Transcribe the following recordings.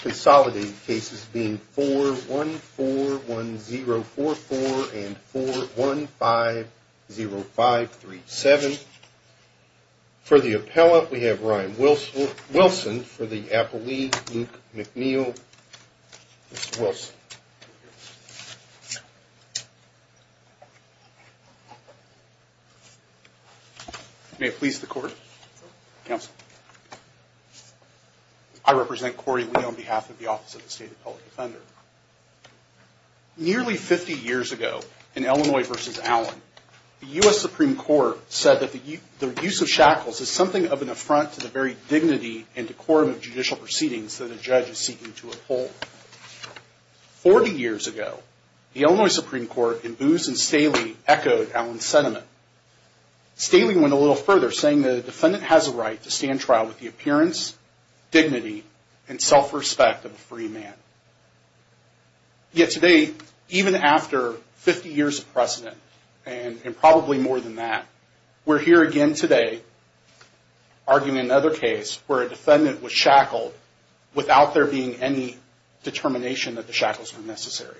Consolidated cases being 4141044 and 4150537. For the appellate, we have Ryan Wilson for the Appellee, Luke McNeil. Mr. Wilson. May it please the Court. Counsel. I represent Corey Lee on behalf of the Office of the State Appellate Defender. Nearly 50 years ago, in Illinois v. Allen, the U.S. Supreme Court said that the use of shackles is something of an affront to the very dignity and decorum of judicial proceedings that a judge is seeking to uphold. Forty years ago, the Illinois Supreme Court, in Boos v. Staley, echoed Allen's sentiment. Staley went a little further, saying that a defendant has a right to stand trial with the appearance, dignity, and self-respect of a free man. Yet today, even after 50 years of precedent, and probably more than that, we're here again today arguing another case where a defendant was shackled without there being any determination that the shackles were necessary.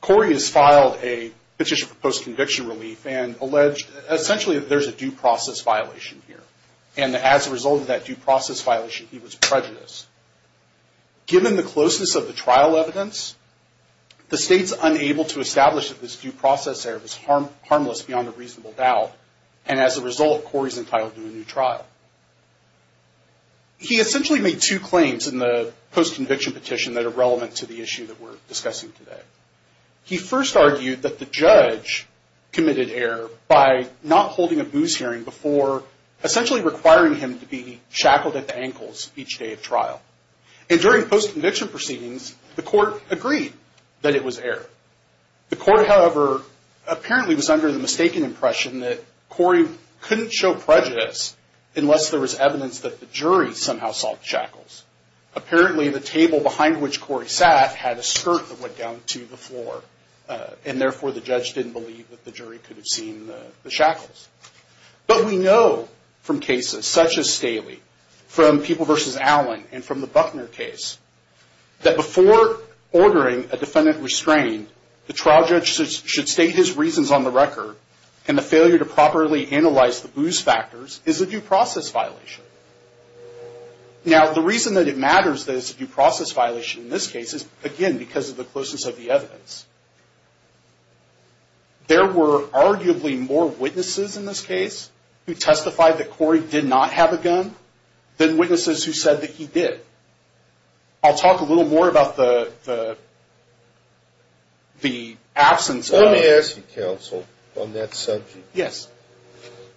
Corey has filed a petition for post-conviction relief and alleged, essentially, that there's a due process violation here. And as a result of that due process violation, he was prejudiced. Given the closeness of the trial evidence, the State's unable to establish that this due process error was harmless beyond a reasonable doubt. And as a result, Corey's entitled to a new trial. He essentially made two claims in the post-conviction petition that are relevant to the issue that we're discussing today. He first argued that the judge committed error by not holding a Boos hearing before essentially requiring him to be shackled at the ankles each day of trial. And during post-conviction proceedings, the court agreed that it was error. The court, however, apparently was under the mistaken impression that Corey couldn't show prejudice unless there was evidence that the jury somehow saw the shackles. Apparently, the table behind which Corey sat had a skirt that went down to the floor. And therefore, the judge didn't believe that the jury could have seen the shackles. But we know from cases such as Staley, from People v. Allen, and from the Buckner case, that before ordering a defendant restrained, the trial judge should state his reasons on the record, and the failure to properly analyze the Boos factors is a due process violation. Now, the reason that it matters that it's a due process violation in this case is, again, because of the closeness of the evidence. There were arguably more witnesses in this case who testified that Corey did not have a gun than witnesses who said that he did. I'll talk a little more about the absence of... Let me ask you, counsel, on that subject. Yes.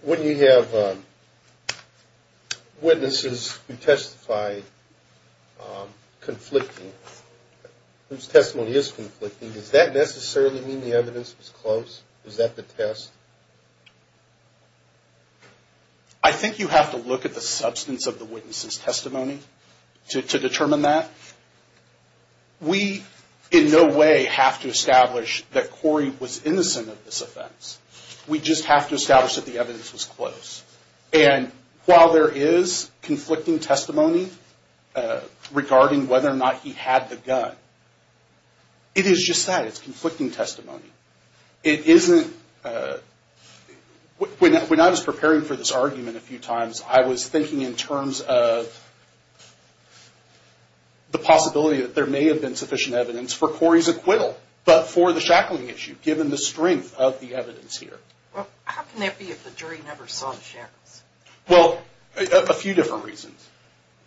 When you have witnesses who testify conflicting, whose testimony is conflicting, does that necessarily mean the evidence was close? Is that the test? I think you have to look at the substance of the witness's testimony to determine that. We, in no way, have to establish that Corey was innocent of this offense. We just have to establish that the evidence was close. And while there is conflicting testimony regarding whether or not he had the gun, it is just that. It's conflicting testimony. It isn't... When I was preparing for this argument a few times, I was thinking in terms of the possibility that there may have been sufficient evidence for Corey's acquittal, but for the shackling issue, given the strength of the evidence here. How can that be if the jury never saw the shackles? Well, a few different reasons.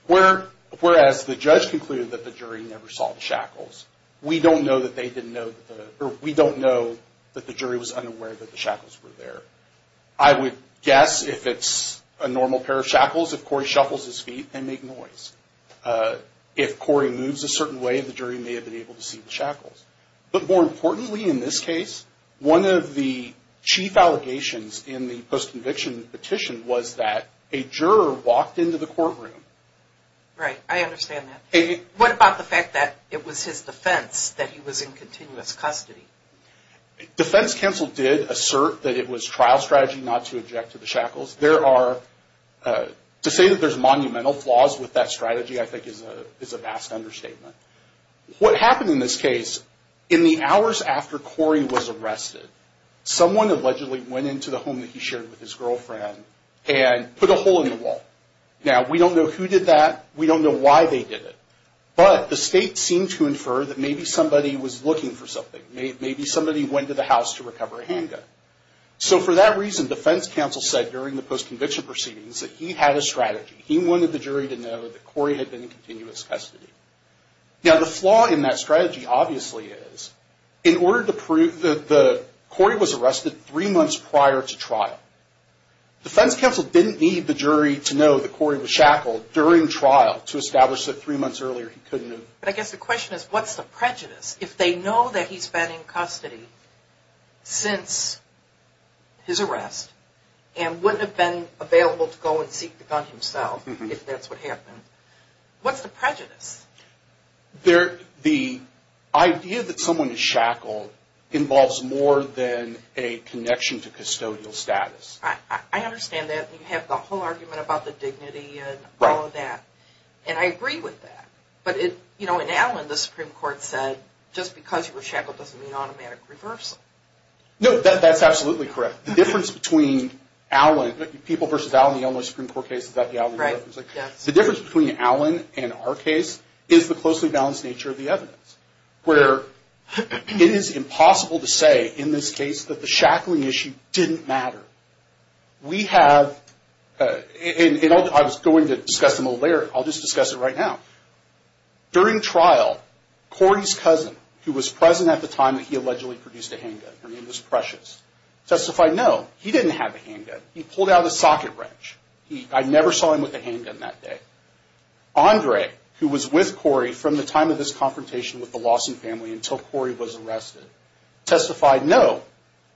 Whereas the judge concluded that the jury never saw the shackles, we don't know that the jury was unaware that the shackles were there. I would guess if it's a normal pair of shackles, if Corey shuffles his feet and makes noise. If Corey moves a certain way, the jury may have been able to see the shackles. But more importantly in this case, one of the chief allegations in the post-conviction petition was that a juror walked into the courtroom. Right. I understand that. What about the fact that it was his defense that he was in continuous custody? Defense counsel did assert that it was trial strategy not to object to the shackles. To say that there's monumental flaws with that strategy, I think, is a vast understatement. What happened in this case, in the hours after Corey was arrested, someone allegedly went into the home that he shared with his girlfriend and put a hole in the wall. Now, we don't know who did that. We don't know why they did it. But the state seemed to infer that maybe somebody was looking for something. Maybe somebody went to the house to recover a handgun. So for that reason, defense counsel said during the post-conviction proceedings that he had a strategy. He wanted the jury to know that Corey had been in continuous custody. Now, the flaw in that strategy, obviously, is in order to prove that Corey was arrested three months prior to trial, defense counsel didn't need the jury to know that Corey was shackled during trial to establish that three months earlier he couldn't have. But I guess the question is, what's the prejudice? If they know that he's been in custody since his arrest and wouldn't have been available to go and seek the gun himself, if that's what happened, what's the prejudice? The idea that someone is shackled involves more than a connection to custodial status. I understand that. You have the whole argument about the dignity and all of that. Right. And I agree with that. But, you know, in Allen, the Supreme Court said just because you were shackled doesn't mean automatic reversal. No, that's absolutely correct. The difference between Allen, people versus Allen, the Illinois Supreme Court case, the difference between Allen and our case is the closely balanced nature of the evidence. Where it is impossible to say in this case that the shackling issue didn't matter. We have, and I was going to discuss them a little later. I'll just discuss it right now. During trial, Corey's cousin, who was present at the time that he allegedly produced a handgun, her name was Precious, testified no, he didn't have a handgun. He pulled out a socket wrench. I never saw him with a handgun that day. Andre, who was with Corey from the time of this confrontation with the Lawson family until Corey was arrested, testified no,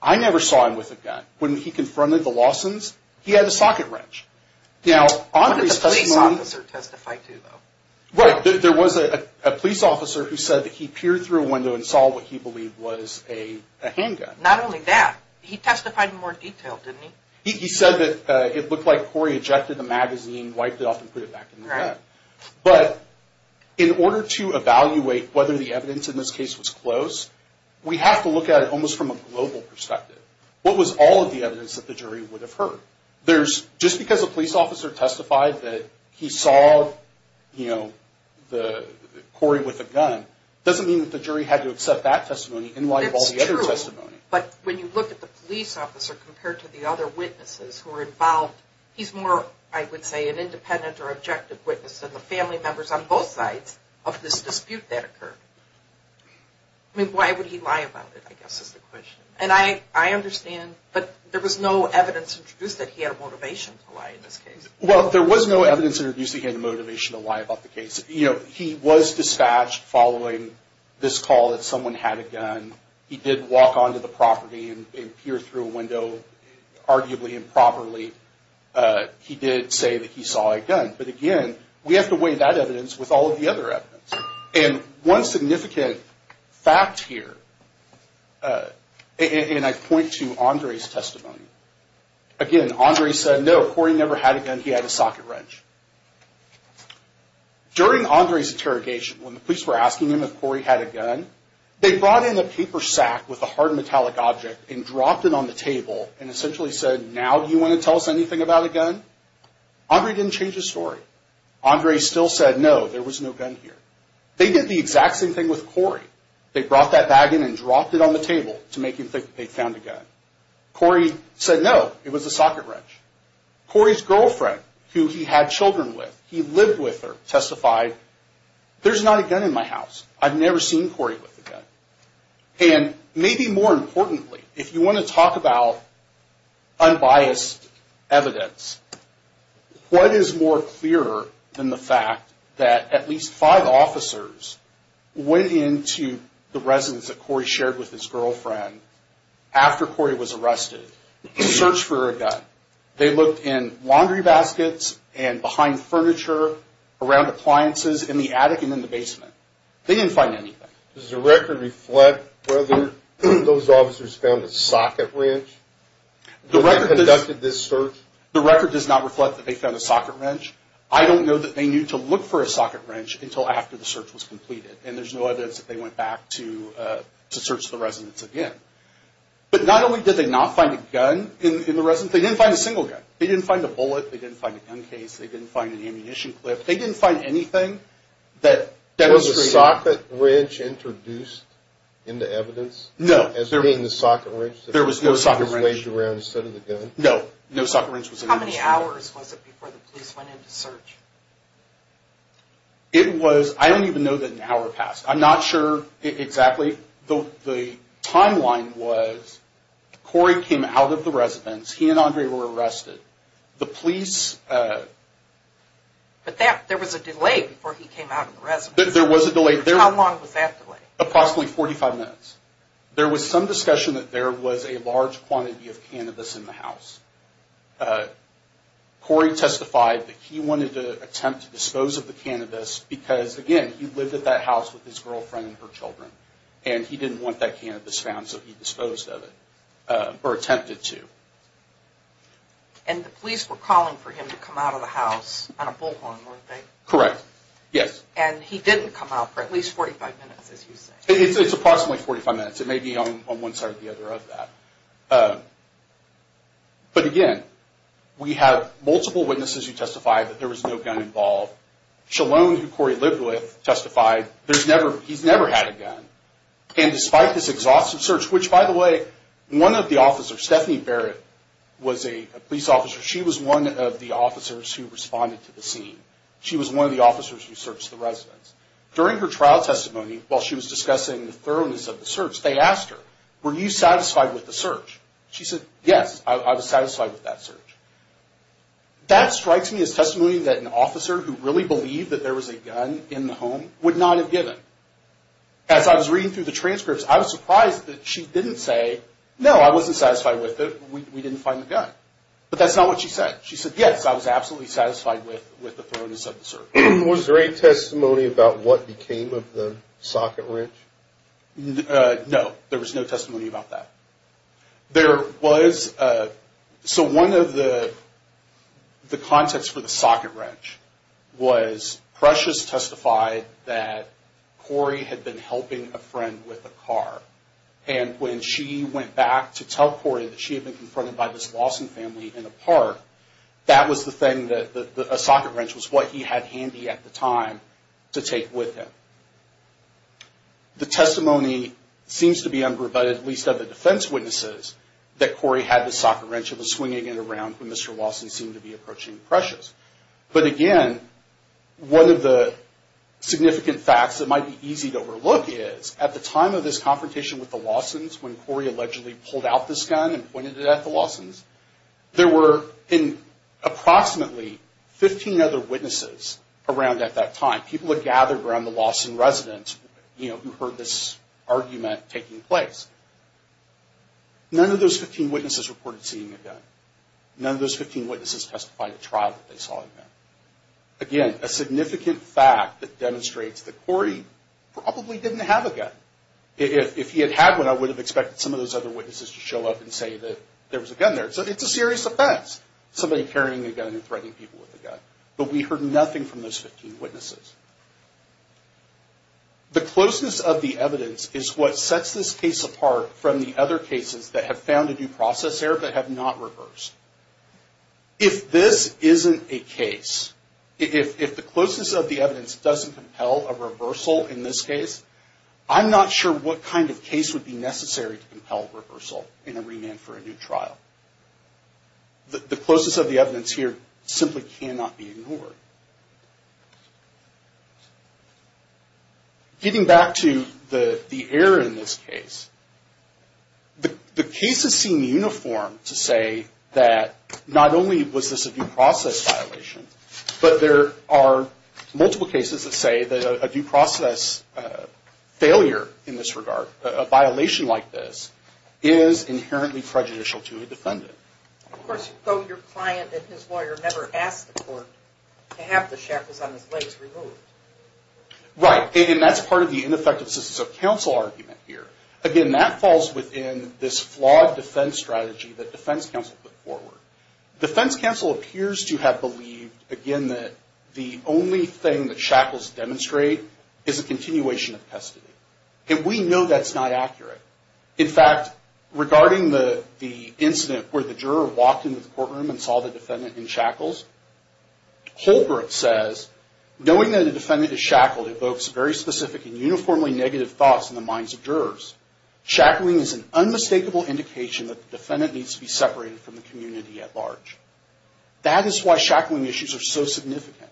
I never saw him with a gun. When he confronted the Lawsons, he had a socket wrench. Now, Andre's testimony... What did the police officer testify to, though? Right. There was a police officer who said that he peered through a window and saw what he believed was a handgun. Not only that, he testified in more detail, didn't he? He said that it looked like Corey ejected the magazine, wiped it off, and put it back in the bag. Right. But in order to evaluate whether the evidence in this case was close, we have to look at it almost from a global perspective. What was all of the evidence that the jury would have heard? Just because a police officer testified that he saw Corey with a gun doesn't mean that the jury had to accept that testimony in light of all the other testimony. That's true. But when you look at the police officer compared to the other witnesses who were involved, he's more, I would say, an independent or objective witness than the family members on both sides of this dispute that occurred. I mean, why would he lie about it, I guess, is the question. And I understand, but there was no evidence introduced that he had a motivation to lie in this case. Well, there was no evidence introduced that he had a motivation to lie about the case. You know, he was dispatched following this call that someone had a gun. He did walk onto the property and peer through a window, arguably improperly. He did say that he saw a gun. But again, we have to weigh that evidence with all of the other evidence. And one significant fact here, and I point to Andre's testimony. Again, Andre said, no, Corey never had a gun. He had a socket wrench. During Andre's interrogation, when the police were asking him if Corey had a gun, they brought in a paper sack with a hard metallic object and dropped it on the table and essentially said, now do you want to tell us anything about a gun? Andre didn't change his story. Andre still said, no, there was no gun here. They did the exact same thing with Corey. They brought that bag in and dropped it on the table to make him think they'd found a gun. Corey said, no, it was a socket wrench. Corey's girlfriend, who he had children with, he lived with her, testified, there's not a gun in my house. I've never seen Corey with a gun. And maybe more importantly, if you want to talk about unbiased evidence, what is more clear than the fact that at least five officers went into the residence that Corey shared with his girlfriend after Corey was arrested, searched for a gun. They looked in laundry baskets and behind furniture, around appliances, in the attic and in the basement. They didn't find anything. Does the record reflect whether those officers found a socket wrench when they conducted this search? The record does not reflect that they found a socket wrench. I don't know that they knew to look for a socket wrench until after the search was completed, and there's no evidence that they went back to search the residence again. But not only did they not find a gun in the residence, they didn't find a single gun. They didn't find a bullet. They didn't find a gun case. They didn't find an ammunition clip. They didn't find anything that demonstrated... Was a socket wrench introduced in the evidence? No. As being the socket wrench? There was no socket wrench. It was waged around instead of the gun? No, no socket wrench was introduced. How many hours was it before the police went in to search? It was, I don't even know that an hour passed. I'm not sure exactly. The timeline was Corey came out of the residence. He and Andre were arrested. The police... But there was a delay before he came out of the residence. There was a delay. How long was that delay? Approximately 45 minutes. There was some discussion that there was a large quantity of cannabis in the house. Corey testified that he wanted to attempt to dispose of the cannabis because, again, he lived at that house with his girlfriend and her children, and he didn't want that cannabis found, so he disposed of it, or attempted to. And the police were calling for him to come out of the house on a bullhorn, weren't they? Correct, yes. And he didn't come out for at least 45 minutes, as you say. It's approximately 45 minutes. It may be on one side or the other of that. But, again, we have multiple witnesses who testify that there was no gun involved. Shalone, who Corey lived with, testified he's never had a gun. And despite this exhaustive search, which, by the way, one of the officers, Stephanie Barrett, was a police officer. She was one of the officers who responded to the scene. She was one of the officers who searched the residence. During her trial testimony, while she was discussing the thoroughness of the search, they asked her, were you satisfied with the search? She said, yes, I was satisfied with that search. That strikes me as testimony that an officer who really believed that there was a gun in the home would not have given. As I was reading through the transcripts, I was surprised that she didn't say, no, I wasn't satisfied with it. We didn't find the gun. But that's not what she said. She said, yes, I was absolutely satisfied with the thoroughness of the search. Was there any testimony about what became of the socket wrench? No, there was no testimony about that. There was. So one of the contexts for the socket wrench was Precious testified that Corey had been helping a friend with a car. And when she went back to tell Corey that she had been confronted by this Lawson family in a park, that was the thing that a socket wrench was what he had handy at the time to take with him. The testimony seems to be unrebutted, at least of the defense witnesses, that Corey had this socket wrench and was swinging it around when Mr. Lawson seemed to be approaching Precious. But again, one of the significant facts that might be easy to overlook is at the time of this confrontation with the Lawsons, when Corey allegedly pulled out this gun and pointed it at the Lawsons, there were approximately 15 other witnesses around at that time. People had gathered around the Lawson residence who heard this argument taking place. None of those 15 witnesses reported seeing a gun. None of those 15 witnesses testified at trial that they saw a gun. Again, a significant fact that demonstrates that Corey probably didn't have a gun. If he had had one, I would have expected some of those other witnesses to show up and say that there was a gun there. So it's a serious offense, somebody carrying a gun and threatening people with a gun. But we heard nothing from those 15 witnesses. The closeness of the evidence is what sets this case apart from the other cases that have found a new process error but have not reversed. If this isn't a case, if the closeness of the evidence doesn't compel a reversal in this case, I'm not sure what kind of case would be necessary to compel a reversal in a remand for a new trial. The closeness of the evidence here simply cannot be ignored. Getting back to the error in this case, the case is seen uniform to say that not only was this a new process violation, but there are multiple cases that say that a new process failure in this regard, a violation like this, is inherently prejudicial to a defendant. Of course, though your client and his lawyer never asked the court to have the shackles on his legs removed. Right. And that's part of the ineffective assistance of counsel argument here. Again, that falls within this flawed defense strategy that defense counsel put forward. Defense counsel appears to have believed, again, that the only thing that shackles demonstrate is a continuation of custody. And we know that's not accurate. In fact, regarding the incident where the juror walked into the courtroom and saw the defendant in shackles, Holbrook says, knowing that a defendant is shackled evokes very specific and uniformly negative thoughts in the minds of jurors. Shackling is an unmistakable indication that the defendant needs to be separated from the community at large. That is why shackling issues are so significant.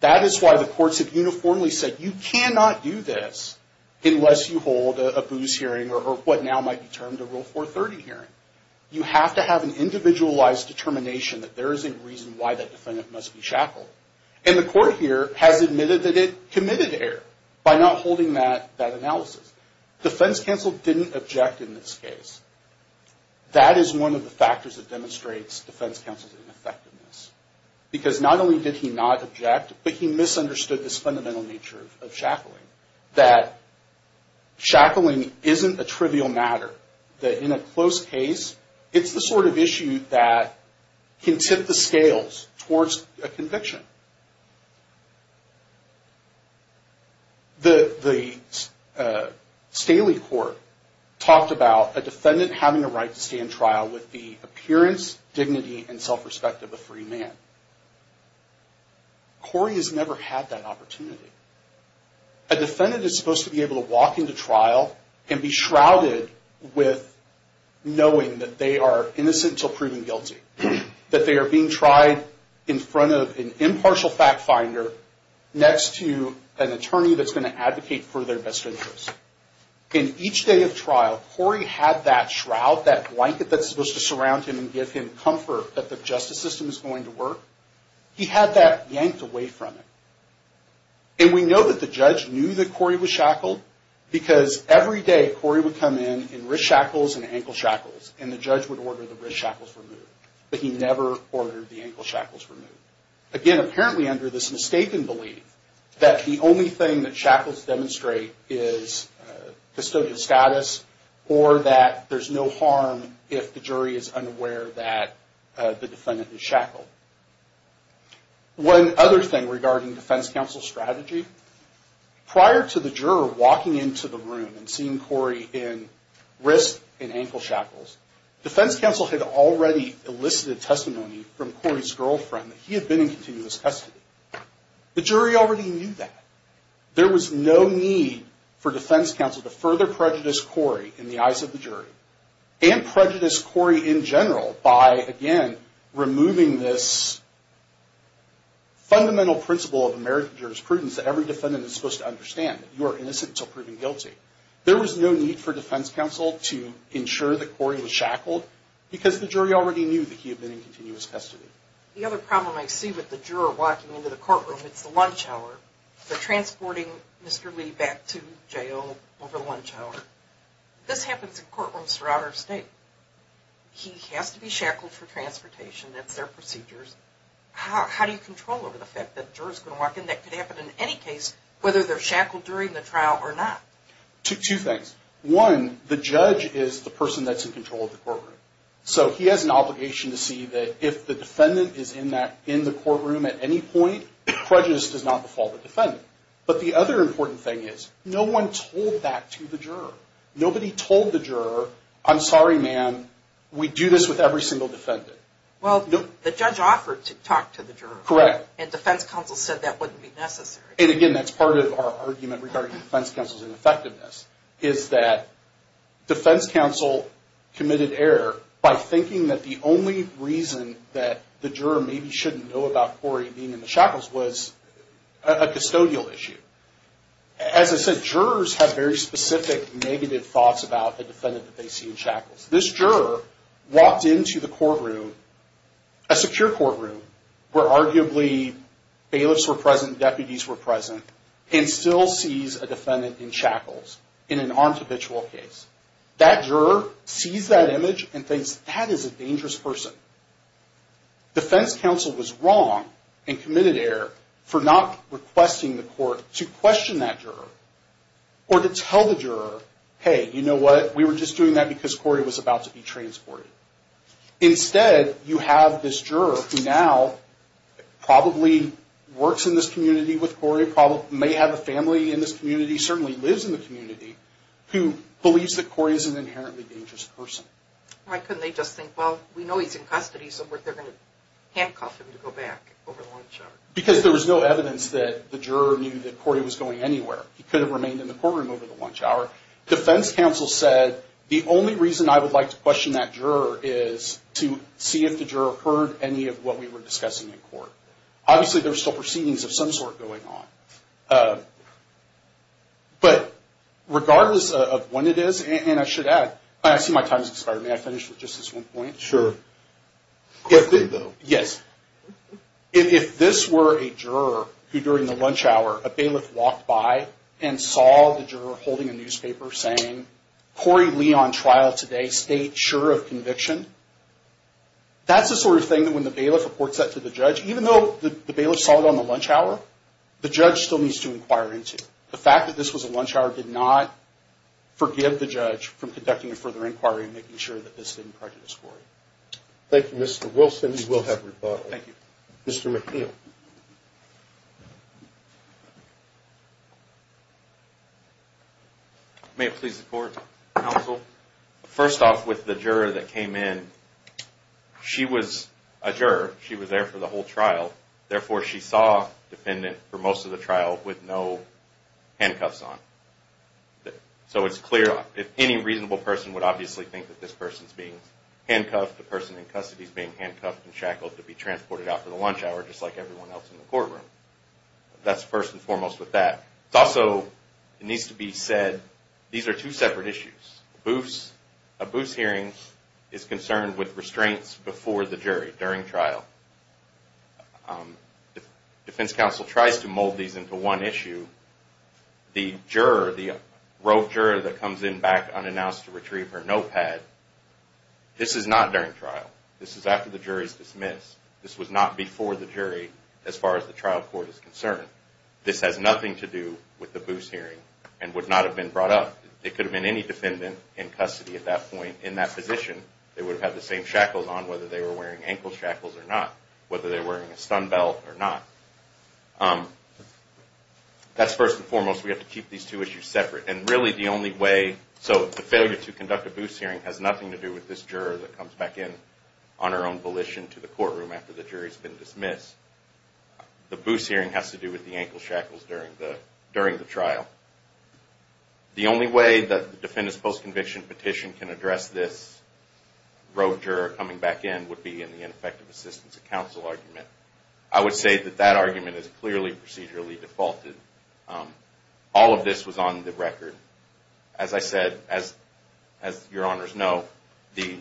That is why the courts have uniformly said, you cannot do this unless you hold a booze hearing or what now might be termed a Rule 430 hearing. You have to have an individualized determination that there is a reason why that defendant must be shackled. And the court here has admitted that it committed error by not holding that analysis. Defense counsel didn't object in this case. That is one of the factors that demonstrates defense counsel's ineffectiveness. Because not only did he not object, but he misunderstood this fundamental nature of shackling. That shackling isn't a trivial matter. That in a close case, it's the sort of issue that can tip the scales towards a conviction. The Staley court talked about a defendant having a right to stay in trial with the appearance, dignity, and self-respect of a free man. Corey has never had that opportunity. A defendant is supposed to be able to walk into trial and be shrouded with knowing that they are innocent until proven guilty. That they are being tried in front of an impartial fact finder next to an attorney that's going to advocate for their best interest. In each day of trial, Corey had that shroud, that blanket that's supposed to surround him and give him comfort that the justice system is going to work. He had that yanked away from him. And we know that the judge knew that Corey was shackled because every day Corey would come in in wrist shackles and ankle shackles. And the judge would order the wrist shackles removed. But he never ordered the ankle shackles removed. Again, apparently under this mistaken belief that the only thing that shackles demonstrate is custodial status. Or that there's no harm if the jury is unaware that the defendant is shackled. One other thing regarding defense counsel strategy. Prior to the juror walking into the room and seeing Corey in wrist and ankle shackles, defense counsel had already elicited testimony from Corey's girlfriend that he had been in continuous custody. The jury already knew that. There was no need for defense counsel to further prejudice Corey in the eyes of the jury. And prejudice Corey in general by, again, removing this fundamental principle of American jurisprudence that every defendant is supposed to understand, that you are innocent until proven guilty. There was no need for defense counsel to ensure that Corey was shackled because the jury already knew that he had been in continuous custody. The other problem I see with the juror walking into the courtroom, it's the lunch hour. They're transporting Mr. Lee back to jail over the lunch hour. This happens in courtrooms throughout our state. He has to be shackled for transportation. That's their procedures. How do you control over the fact that jurors can walk in? That could happen in any case, whether they're shackled during the trial or not. Two things. One, the judge is the person that's in control of the courtroom. So he has an obligation to see that if the defendant is in the courtroom at any point, prejudice does not befall the defendant. But the other important thing is no one told that to the juror. Nobody told the juror, I'm sorry, ma'am, we do this with every single defendant. Well, the judge offered to talk to the juror. Correct. And defense counsel said that wouldn't be necessary. And, again, that's part of our argument regarding defense counsel's ineffectiveness, is that defense counsel committed error by thinking that the only reason that the juror maybe shouldn't know about Corey being in the shackles was a custodial issue. As I said, jurors have very specific negative thoughts about the defendant that they see in shackles. This juror walked into the courtroom, a secure courtroom, where arguably bailiffs were present, deputies were present, and still sees a defendant in shackles in an armed habitual case. That juror sees that image and thinks that is a dangerous person. Defense counsel was wrong and committed error for not requesting the court to question that juror or to tell the juror, hey, you know what, we were just doing that because Corey was about to be transported. Instead, you have this juror who now probably works in this community with Corey, may have a family in this community, certainly lives in the community, who believes that Corey is an inherently dangerous person. Why couldn't they just think, well, we know he's in custody, so we're going to handcuff him to go back over the long shot? Because there was no evidence that the juror knew that Corey was going anywhere. He could have remained in the courtroom over the lunch hour. Defense counsel said the only reason I would like to question that juror is to see if the juror heard any of what we were discussing in court. Obviously, there are still proceedings of some sort going on. But regardless of when it is, and I should add, I see my time has expired. May I finish with just this one point? Sure. Yes. If this were a juror who during the lunch hour, a bailiff walked by and saw the juror holding a newspaper saying, Corey Lee on trial today, state sure of conviction, that's the sort of thing that when the bailiff reports that to the judge, even though the bailiff saw it on the lunch hour, the judge still needs to inquire into. The fact that this was a lunch hour did not forgive the judge from conducting a further inquiry and making sure that this didn't prejudice Corey. Thank you, Mr. Wilson. We will have rebuttal. Thank you. Mr. McNeil. May it please the court, counsel. First off, with the juror that came in, she was a juror. She was there for the whole trial. Therefore, she saw a defendant for most of the trial with no handcuffs on. So it's clear. If any reasonable person would obviously think that this person is being handcuffed, the person in custody is being handcuffed and shackled to be transported out for the lunch hour, just like everyone else in the courtroom. That's first and foremost with that. It's also, it needs to be said, these are two separate issues. A BOOS hearing is concerned with restraints before the jury during trial. If defense counsel tries to mold these into one issue, the juror, the rogue juror that comes in back unannounced to retrieve her notepad, this is not during trial. This is after the jury is dismissed. This was not before the jury as far as the trial court is concerned. This has nothing to do with the BOOS hearing and would not have been brought up. It could have been any defendant in custody at that point in that position. They would have had the same shackles on whether they were wearing ankle shackles or not, whether they were wearing a stun belt or not. That's first and foremost. We have to keep these two issues separate. And really the only way, so the failure to conduct a BOOS hearing has nothing to do with this juror that comes back in on her own volition to the courtroom after the jury has been dismissed. The BOOS hearing has to do with the ankle shackles during the trial. The only way that the defendant's post-conviction petition can address this rogue juror coming back in would be in the ineffective assistance of counsel argument. I would say that that argument is clearly procedurally defaulted. All of this was on the record. As I said, as your honors know, the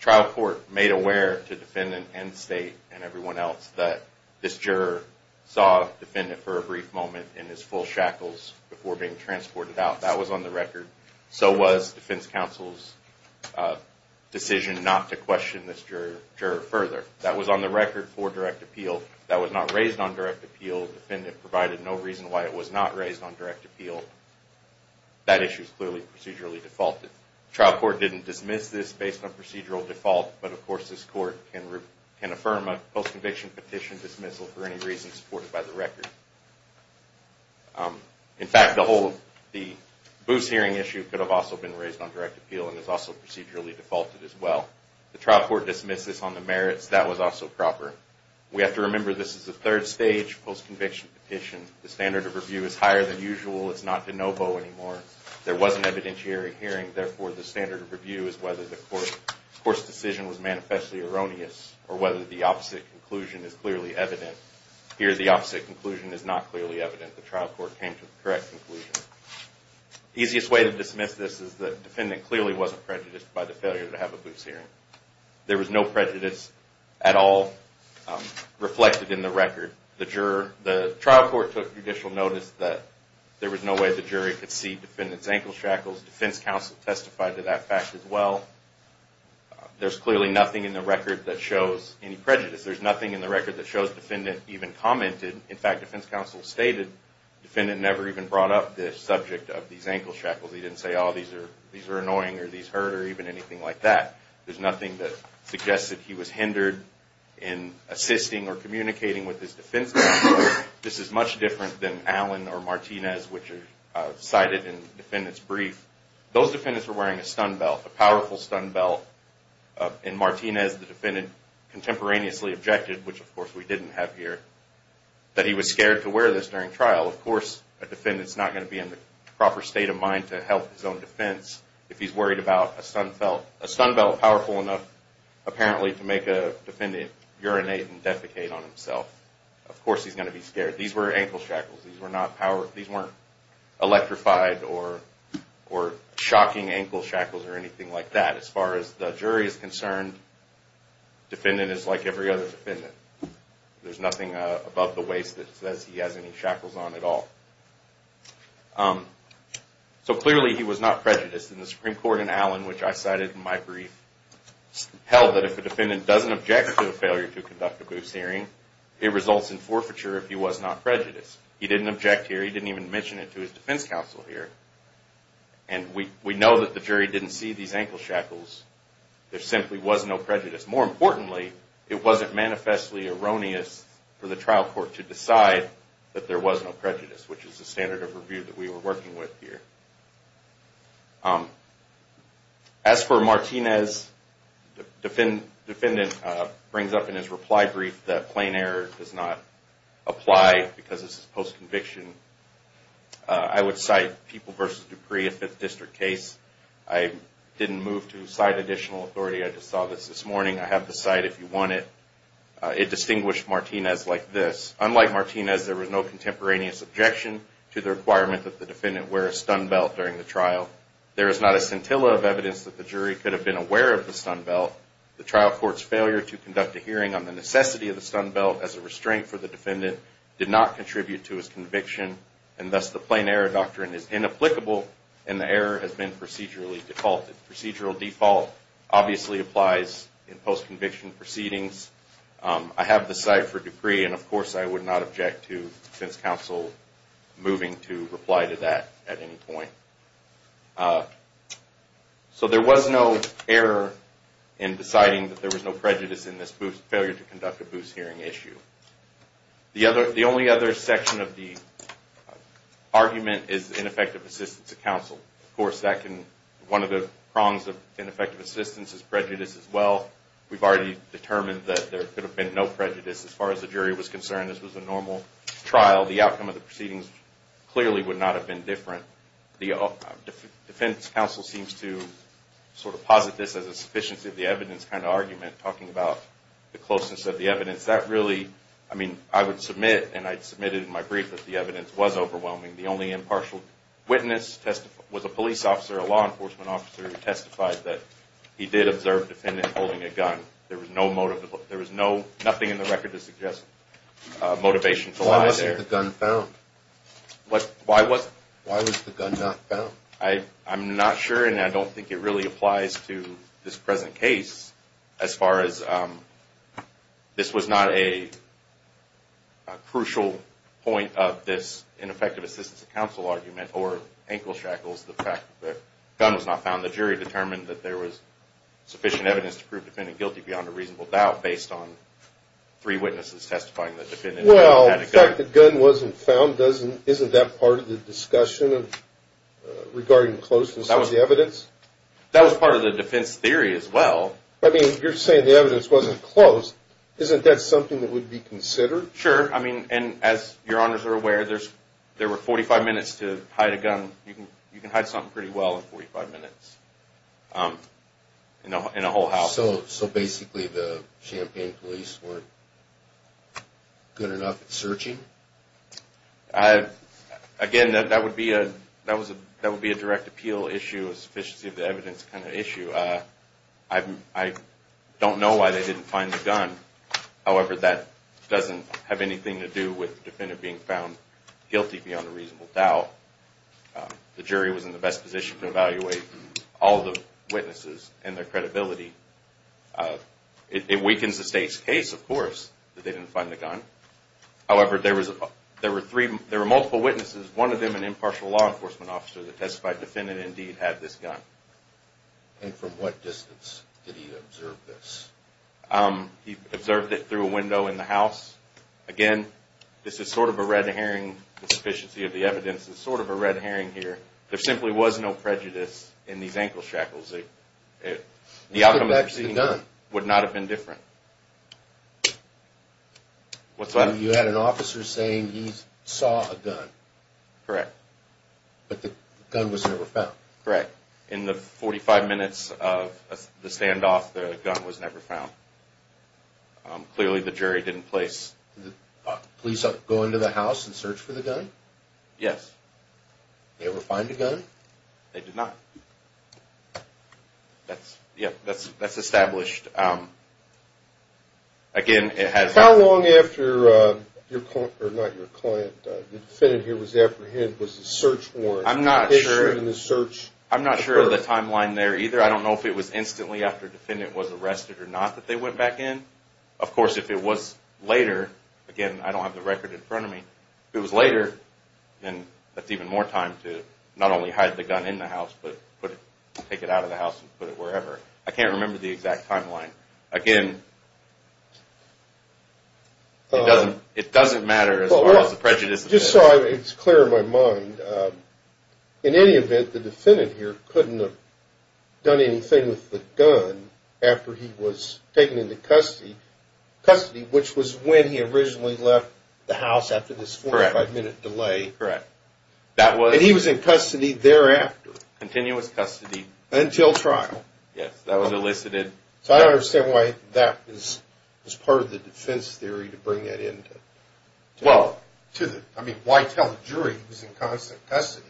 trial court made aware to defendant and state and everyone else that this juror saw defendant for a brief moment in his full shackles before being transported out. That was on the record. So was defense counsel's decision not to question this juror further. That was on the record for direct appeal. That was not raised on direct appeal. Defendant provided no reason why it was not raised on direct appeal. That issue is clearly procedurally defaulted. The trial court didn't dismiss this based on procedural default, but of course this court can affirm a post-conviction petition dismissal for any reason supported by the record. In fact, the BOOS hearing issue could have also been raised on direct appeal and is also procedurally defaulted as well. The trial court dismissed this on the merits. That was also proper. We have to remember this is a third stage post-conviction petition. The standard of review is higher than usual. It's not de novo anymore. There was an evidentiary hearing. Therefore, the standard of review is whether the court's decision was manifestly erroneous or whether the opposite conclusion is clearly evident. Here the opposite conclusion is not clearly evident. The trial court came to the correct conclusion. Easiest way to dismiss this is the defendant clearly wasn't prejudiced by the failure to have a BOOS hearing. There was no prejudice at all reflected in the record. The trial court took judicial notice that there was no way the jury could see defendant's ankle shackles. Defense counsel testified to that fact as well. There's clearly nothing in the record that shows any prejudice. There's nothing in the record that shows defendant even commented. In fact, defense counsel stated defendant never even brought up the subject of these ankle shackles. He didn't say, oh, these are annoying or these hurt or even anything like that. There's nothing that suggests that he was hindered in assisting or communicating with his defense counsel. This is much different than Allen or Martinez, which are cited in the defendant's brief. Those defendants were wearing a stun belt, a powerful stun belt. In Martinez, the defendant contemporaneously objected, which of course we didn't have here, that he was scared to wear this during trial. Of course, a defendant's not going to be in the proper state of mind to help his own defense if he's worried about a stun belt powerful enough apparently to make a defendant urinate and defecate on himself. Of course he's going to be scared. These were ankle shackles. These weren't electrified or shocking ankle shackles or anything like that. As far as the jury is concerned, defendant is like every other defendant. There's nothing above the waist that says he has any shackles on at all. Clearly he was not prejudiced. The Supreme Court in Allen, which I cited in my brief, held that if a defendant doesn't object to the failure to conduct a Booth hearing, it results in forfeiture if he was not prejudiced. He didn't object here. He didn't even mention it to his defense counsel here. We know that the jury didn't see these ankle shackles. There simply was no prejudice. More importantly, it wasn't manifestly erroneous for the trial court to decide that there was no prejudice, which is the standard of review that we were working with here. As for Martinez, the defendant brings up in his reply brief that plain error does not apply because this is post-conviction. I would cite People v. Dupree, a Fifth District case. I didn't move to cite additional authority. I just saw this this morning. I have the cite if you want it. It distinguished Martinez like this. Unlike Martinez, there was no contemporaneous objection to the requirement that the defendant wear a stun belt during the trial. There is not a scintilla of evidence that the jury could have been aware of the stun belt. The trial court's failure to conduct a hearing on the necessity of the stun belt as a restraint for the defendant did not contribute to his conviction, and thus the plain error doctrine is inapplicable and the error has been procedurally defaulted. Procedural default obviously applies in post-conviction proceedings. I have the cite for Dupree, and of course I would not object to defense counsel moving to reply to that at any point. So there was no error in deciding that there was no prejudice in this failure to conduct a boost hearing issue. The only other section of the argument is ineffective assistance of counsel. Of course, one of the prongs of ineffective assistance is prejudice as well. We've already determined that there could have been no prejudice as far as the jury was concerned. This was a normal trial. The outcome of the proceedings clearly would not have been different. The defense counsel seems to sort of posit this as a sufficiency of the evidence kind of argument, talking about the closeness of the evidence. That really, I mean, I would submit, and I submitted in my brief that the evidence was overwhelming. The only impartial witness was a police officer, a law enforcement officer, who testified that he did observe a defendant holding a gun. There was nothing in the record to suggest motivation to lie there. Why wasn't the gun found? Why was the gun not found? I'm not sure, and I don't think it really applies to this present case as far as this was not a crucial point of this ineffective assistance of counsel argument or ankle shackles, the fact that the gun was not found. The jury determined that there was sufficient evidence to prove the defendant guilty beyond a reasonable doubt based on three witnesses testifying that the defendant had a gun. Well, the fact that the gun wasn't found, isn't that part of the discussion regarding closeness of the evidence? That was part of the defense theory as well. I mean, you're saying the evidence wasn't close. Isn't that something that would be considered? Sure. I mean, as your honors are aware, there were 45 minutes to hide a gun. You can hide something pretty well in 45 minutes in a whole house. So basically the Champaign police weren't good enough at searching? Again, that would be a direct appeal issue, a sufficiency of the evidence kind of issue. I don't know why they didn't find the gun. However, that doesn't have anything to do with the defendant being found guilty beyond a reasonable doubt. The jury was in the best position to evaluate all the witnesses and their credibility. It weakens the state's case, of course, that they didn't find the gun. However, there were multiple witnesses, one of them an impartial law enforcement officer that testified the defendant indeed had this gun. And from what distance did he observe this? He observed it through a window in the house. Again, this is sort of a red herring sufficiency of the evidence. It's sort of a red herring here. There simply was no prejudice in these ankle shackles. The outcome of the proceeding would not have been different. You had an officer saying he saw a gun. Correct. But the gun was never found. Correct. In the 45 minutes of the standoff, the gun was never found. Clearly, the jury didn't place... Did the police go into the house and search for the gun? Yes. They ever find a gun? They did not. That's established. Again, it has... How long after your client, or not your client, the defendant here was apprehended was the search warrant issued I'm not sure of the timeline there either. I don't know if it was instantly after the defendant was arrested or not that they went back in. Of course, if it was later, again, I don't have the record in front of me. If it was later, then that's even more time to not only hide the gun in the house, but take it out of the house and put it wherever. I can't remember the exact timeline. Again, it doesn't matter as far as the prejudice... Just so it's clear in my mind, in any event, the defendant here couldn't have done anything with the gun after he was taken into custody, which was when he originally left the house after this 45-minute delay. Correct. He was in custody thereafter. Continuous custody. Until trial. Yes, that was elicited. So I don't understand why that was part of the defense theory to bring that in. Well... I mean, why tell the jury he was in constant custody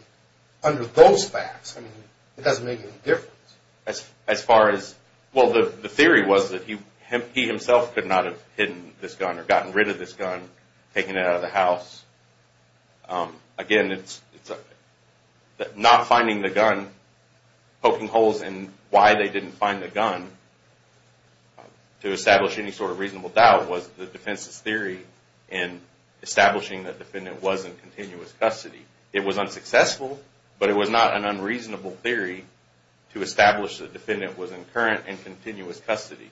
under those facts? I mean, it doesn't make any difference. As far as... Well, the theory was that he himself could not have hidden this gun or gotten rid of this gun, taken it out of the house. Again, it's not finding the gun, poking holes in why they didn't find the gun to establish any sort of reasonable doubt was the defense's theory in establishing the defendant was in continuous custody. It was unsuccessful, but it was not an unreasonable theory to establish the defendant was in current and continuous custody.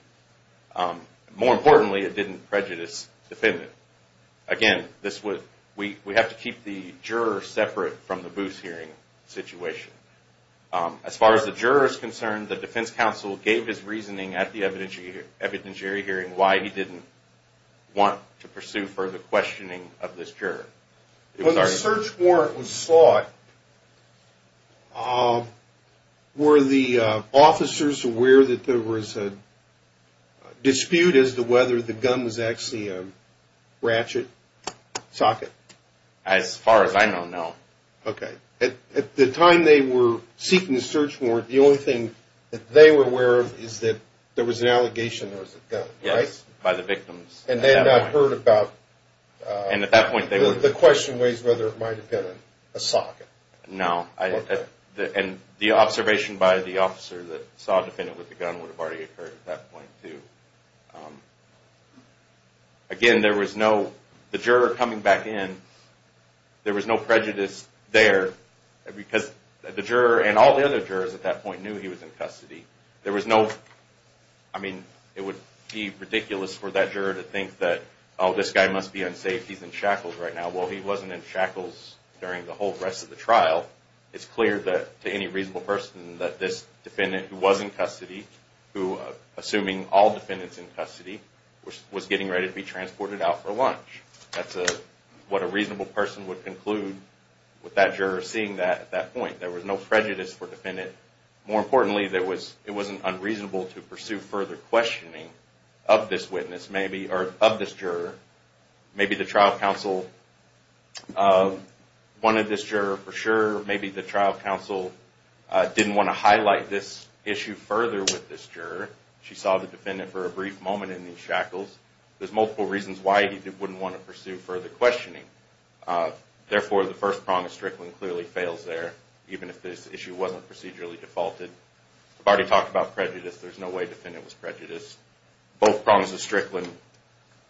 More importantly, it didn't prejudice the defendant. Again, we have to keep the juror separate from the Booth hearing situation. As far as the juror is concerned, the defense counsel gave his reasoning at the evidentiary hearing why he didn't want to pursue further questioning of this juror. When the search warrant was sought, were the officers aware that there was a dispute as to whether the gun was actually a ratchet, socket? As far as I know, no. Okay. At the time they were seeking the search warrant, the only thing that they were aware of is that there was an allegation there was a gun, right? Yes, by the victims. And they had not heard about... No. And the observation by the officer that saw the defendant with the gun would have already occurred at that point, too. Again, there was no... The juror coming back in, there was no prejudice there because the juror and all the other jurors at that point knew he was in custody. There was no... I mean, it would be ridiculous for that juror to think that, oh, this guy must be unsafe, he's in shackles right now. Well, he wasn't in shackles during the whole rest of the trial. It's clear to any reasonable person that this defendant who was in custody, who, assuming all defendants in custody, was getting ready to be transported out for lunch. That's what a reasonable person would conclude with that juror seeing that at that point. There was no prejudice for the defendant. More importantly, it wasn't unreasonable to pursue further questioning of this witness, maybe, or of this juror. Maybe the trial counsel wanted this juror for sure. Maybe the trial counsel didn't want to highlight this issue further with this juror. She saw the defendant for a brief moment in these shackles. There's multiple reasons why he wouldn't want to pursue further questioning. Therefore, the first prong of Strickland clearly fails there, even if this issue wasn't procedurally defaulted. I've already talked about prejudice. There's no way the defendant was prejudiced. Both prongs of Strickland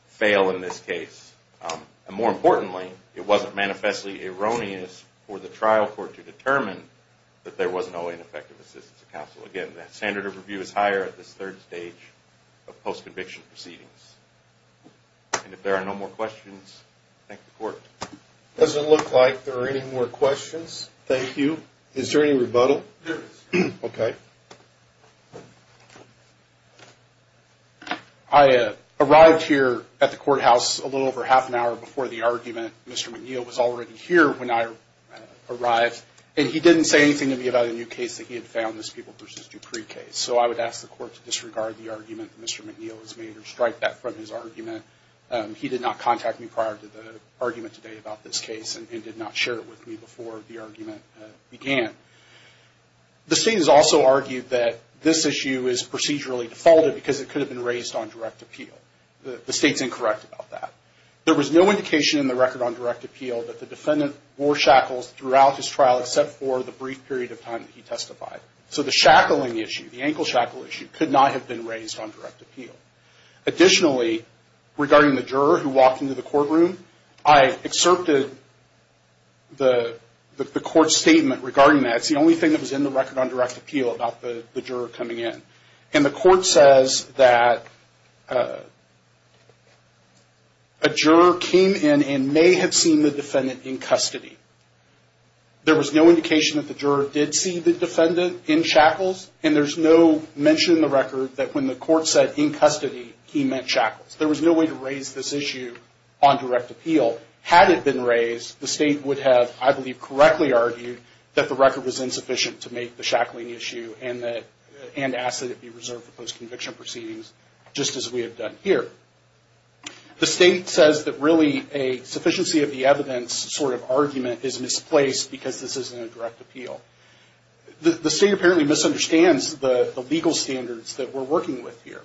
fail in this case. More importantly, it wasn't manifestly erroneous for the trial court to determine that there was no ineffective assistance of counsel. Again, the standard of review is higher at this third stage of post-conviction proceedings. If there are no more questions, thank the court. It doesn't look like there are any more questions. Thank you. Is there any rebuttal? There is. Okay. I arrived here at the courthouse a little over half an hour before the argument. Mr. McNeil was already here when I arrived, and he didn't say anything to me about a new case that he had found, this People v. Dupree case. So I would ask the court to disregard the argument that Mr. McNeil has made or strike that from his argument. He did not contact me prior to the argument today about this case and did not share it with me before the argument began. The state has also argued that this issue is procedurally defaulted because it could have been raised on direct appeal. The state is incorrect about that. There was no indication in the record on direct appeal that the defendant wore shackles throughout his trial except for the brief period of time that he testified. So the shackling issue, the ankle shackle issue, could not have been raised on direct appeal. Additionally, regarding the juror who walked into the courtroom, I excerpted the court's statement regarding that. It's the only thing that was in the record on direct appeal about the juror coming in. And the court says that a juror came in and may have seen the defendant in custody. There was no indication that the juror did see the defendant in shackles, and there's no mention in the record that when the court said in custody, he meant shackles. There was no way to raise this issue on direct appeal. Had it been raised, the state would have, I believe, correctly argued that the record was insufficient to make the shackling issue and ask that it be reserved for post-conviction proceedings, just as we have done here. The state says that really a sufficiency of the evidence sort of argument is misplaced because this isn't a direct appeal. The state apparently misunderstands the legal standards that we're working with here.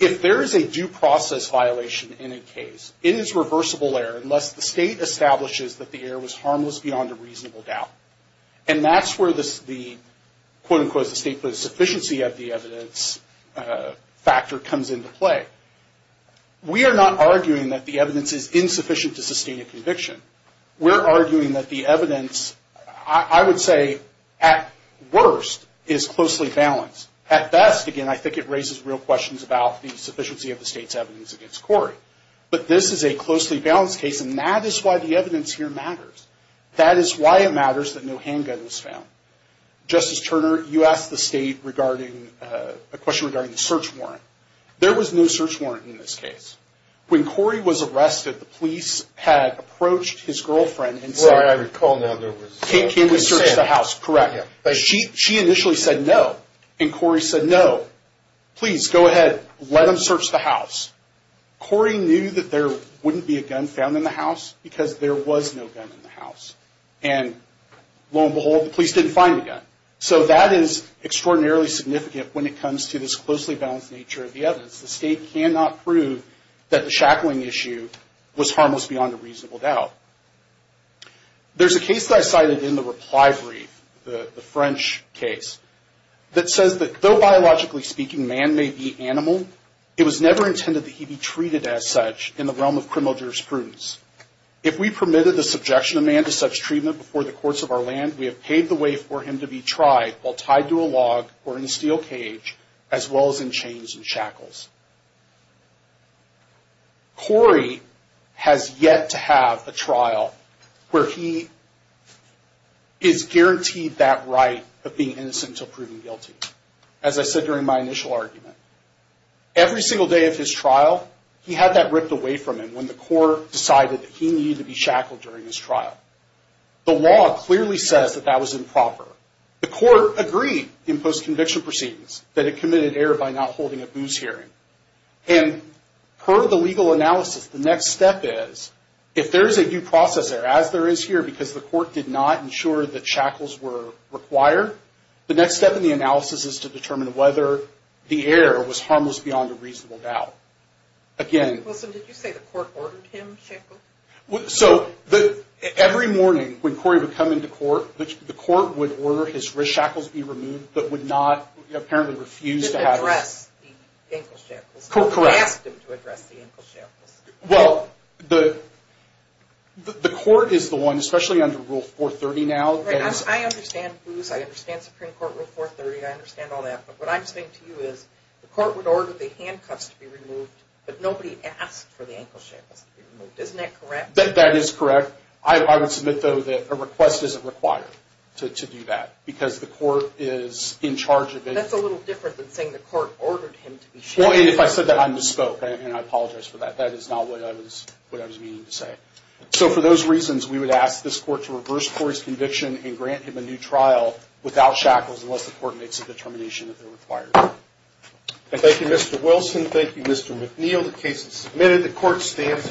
If there is a due process violation in a case, it is reversible error unless the state establishes that the error was harmless beyond a reasonable doubt. And that's where the, quote-unquote, the state put a sufficiency of the evidence factor comes into play. We are not arguing that the evidence is insufficient to sustain a conviction. We're arguing that the evidence, I would say, at worst, is closely balanced. At best, again, I think it raises real questions about the sufficiency of the state's evidence against Corey. But this is a closely balanced case, and that is why the evidence here matters. That is why it matters that no handgun was found. Justice Turner, you asked the state a question regarding the search warrant. There was no search warrant in this case. When Corey was arrested, the police had approached his girlfriend and said— Well, I recall now there was— Can we search the house? Correct. She initially said no, and Corey said no. Please, go ahead. Let them search the house. Corey knew that there wouldn't be a gun found in the house because there was no gun in the house. And lo and behold, the police didn't find the gun. So that is extraordinarily significant when it comes to this closely balanced nature of the evidence. The state cannot prove that the shackling issue was harmless beyond a reasonable doubt. There's a case that I cited in the reply brief, the French case, that says that though biologically speaking man may be animal, it was never intended that he be treated as such in the realm of criminal jurisprudence. If we permitted the subjection of man to such treatment before the courts of our land, we have paved the way for him to be tried while tied to a log or in a steel cage, as well as in chains and shackles. Corey has yet to have a trial where he is guaranteed that right of being innocent until proven guilty, as I said during my initial argument. Every single day of his trial, he had that ripped away from him when the court decided that he needed to be shackled during his trial. The law clearly says that that was improper. The court agreed in post-conviction proceedings that it committed error by not holding a booze hearing. And per the legal analysis, the next step is, if there is a due process error, as there is here, because the court did not ensure that shackles were required, the next step in the analysis is to determine whether the error was harmless beyond a reasonable doubt. Again... Wilson, did you say the court ordered him shackled? So every morning when Corey would come into court, the court would order his shackles be removed, but would not apparently refuse to have... Correct. Well, the court is the one, especially under Rule 430 now... I understand booze, I understand Supreme Court Rule 430, I understand all that, but what I'm saying to you is the court would order the handcuffs to be removed, but nobody asked for the ankle shackles to be removed. Isn't that correct? That is correct. I would submit, though, that a request isn't required to do that because the court is in charge of it. That's a little different than saying the court ordered him to be shackled. If I said that, I misspoke, and I apologize for that. That is not what I was meaning to say. So for those reasons, we would ask this court to reverse Corey's conviction and grant him a new trial without shackles unless the court makes a determination that they're required. Thank you, Mr. Wilson. Thank you, Mr. McNeil. The case is submitted. The court stands in recess.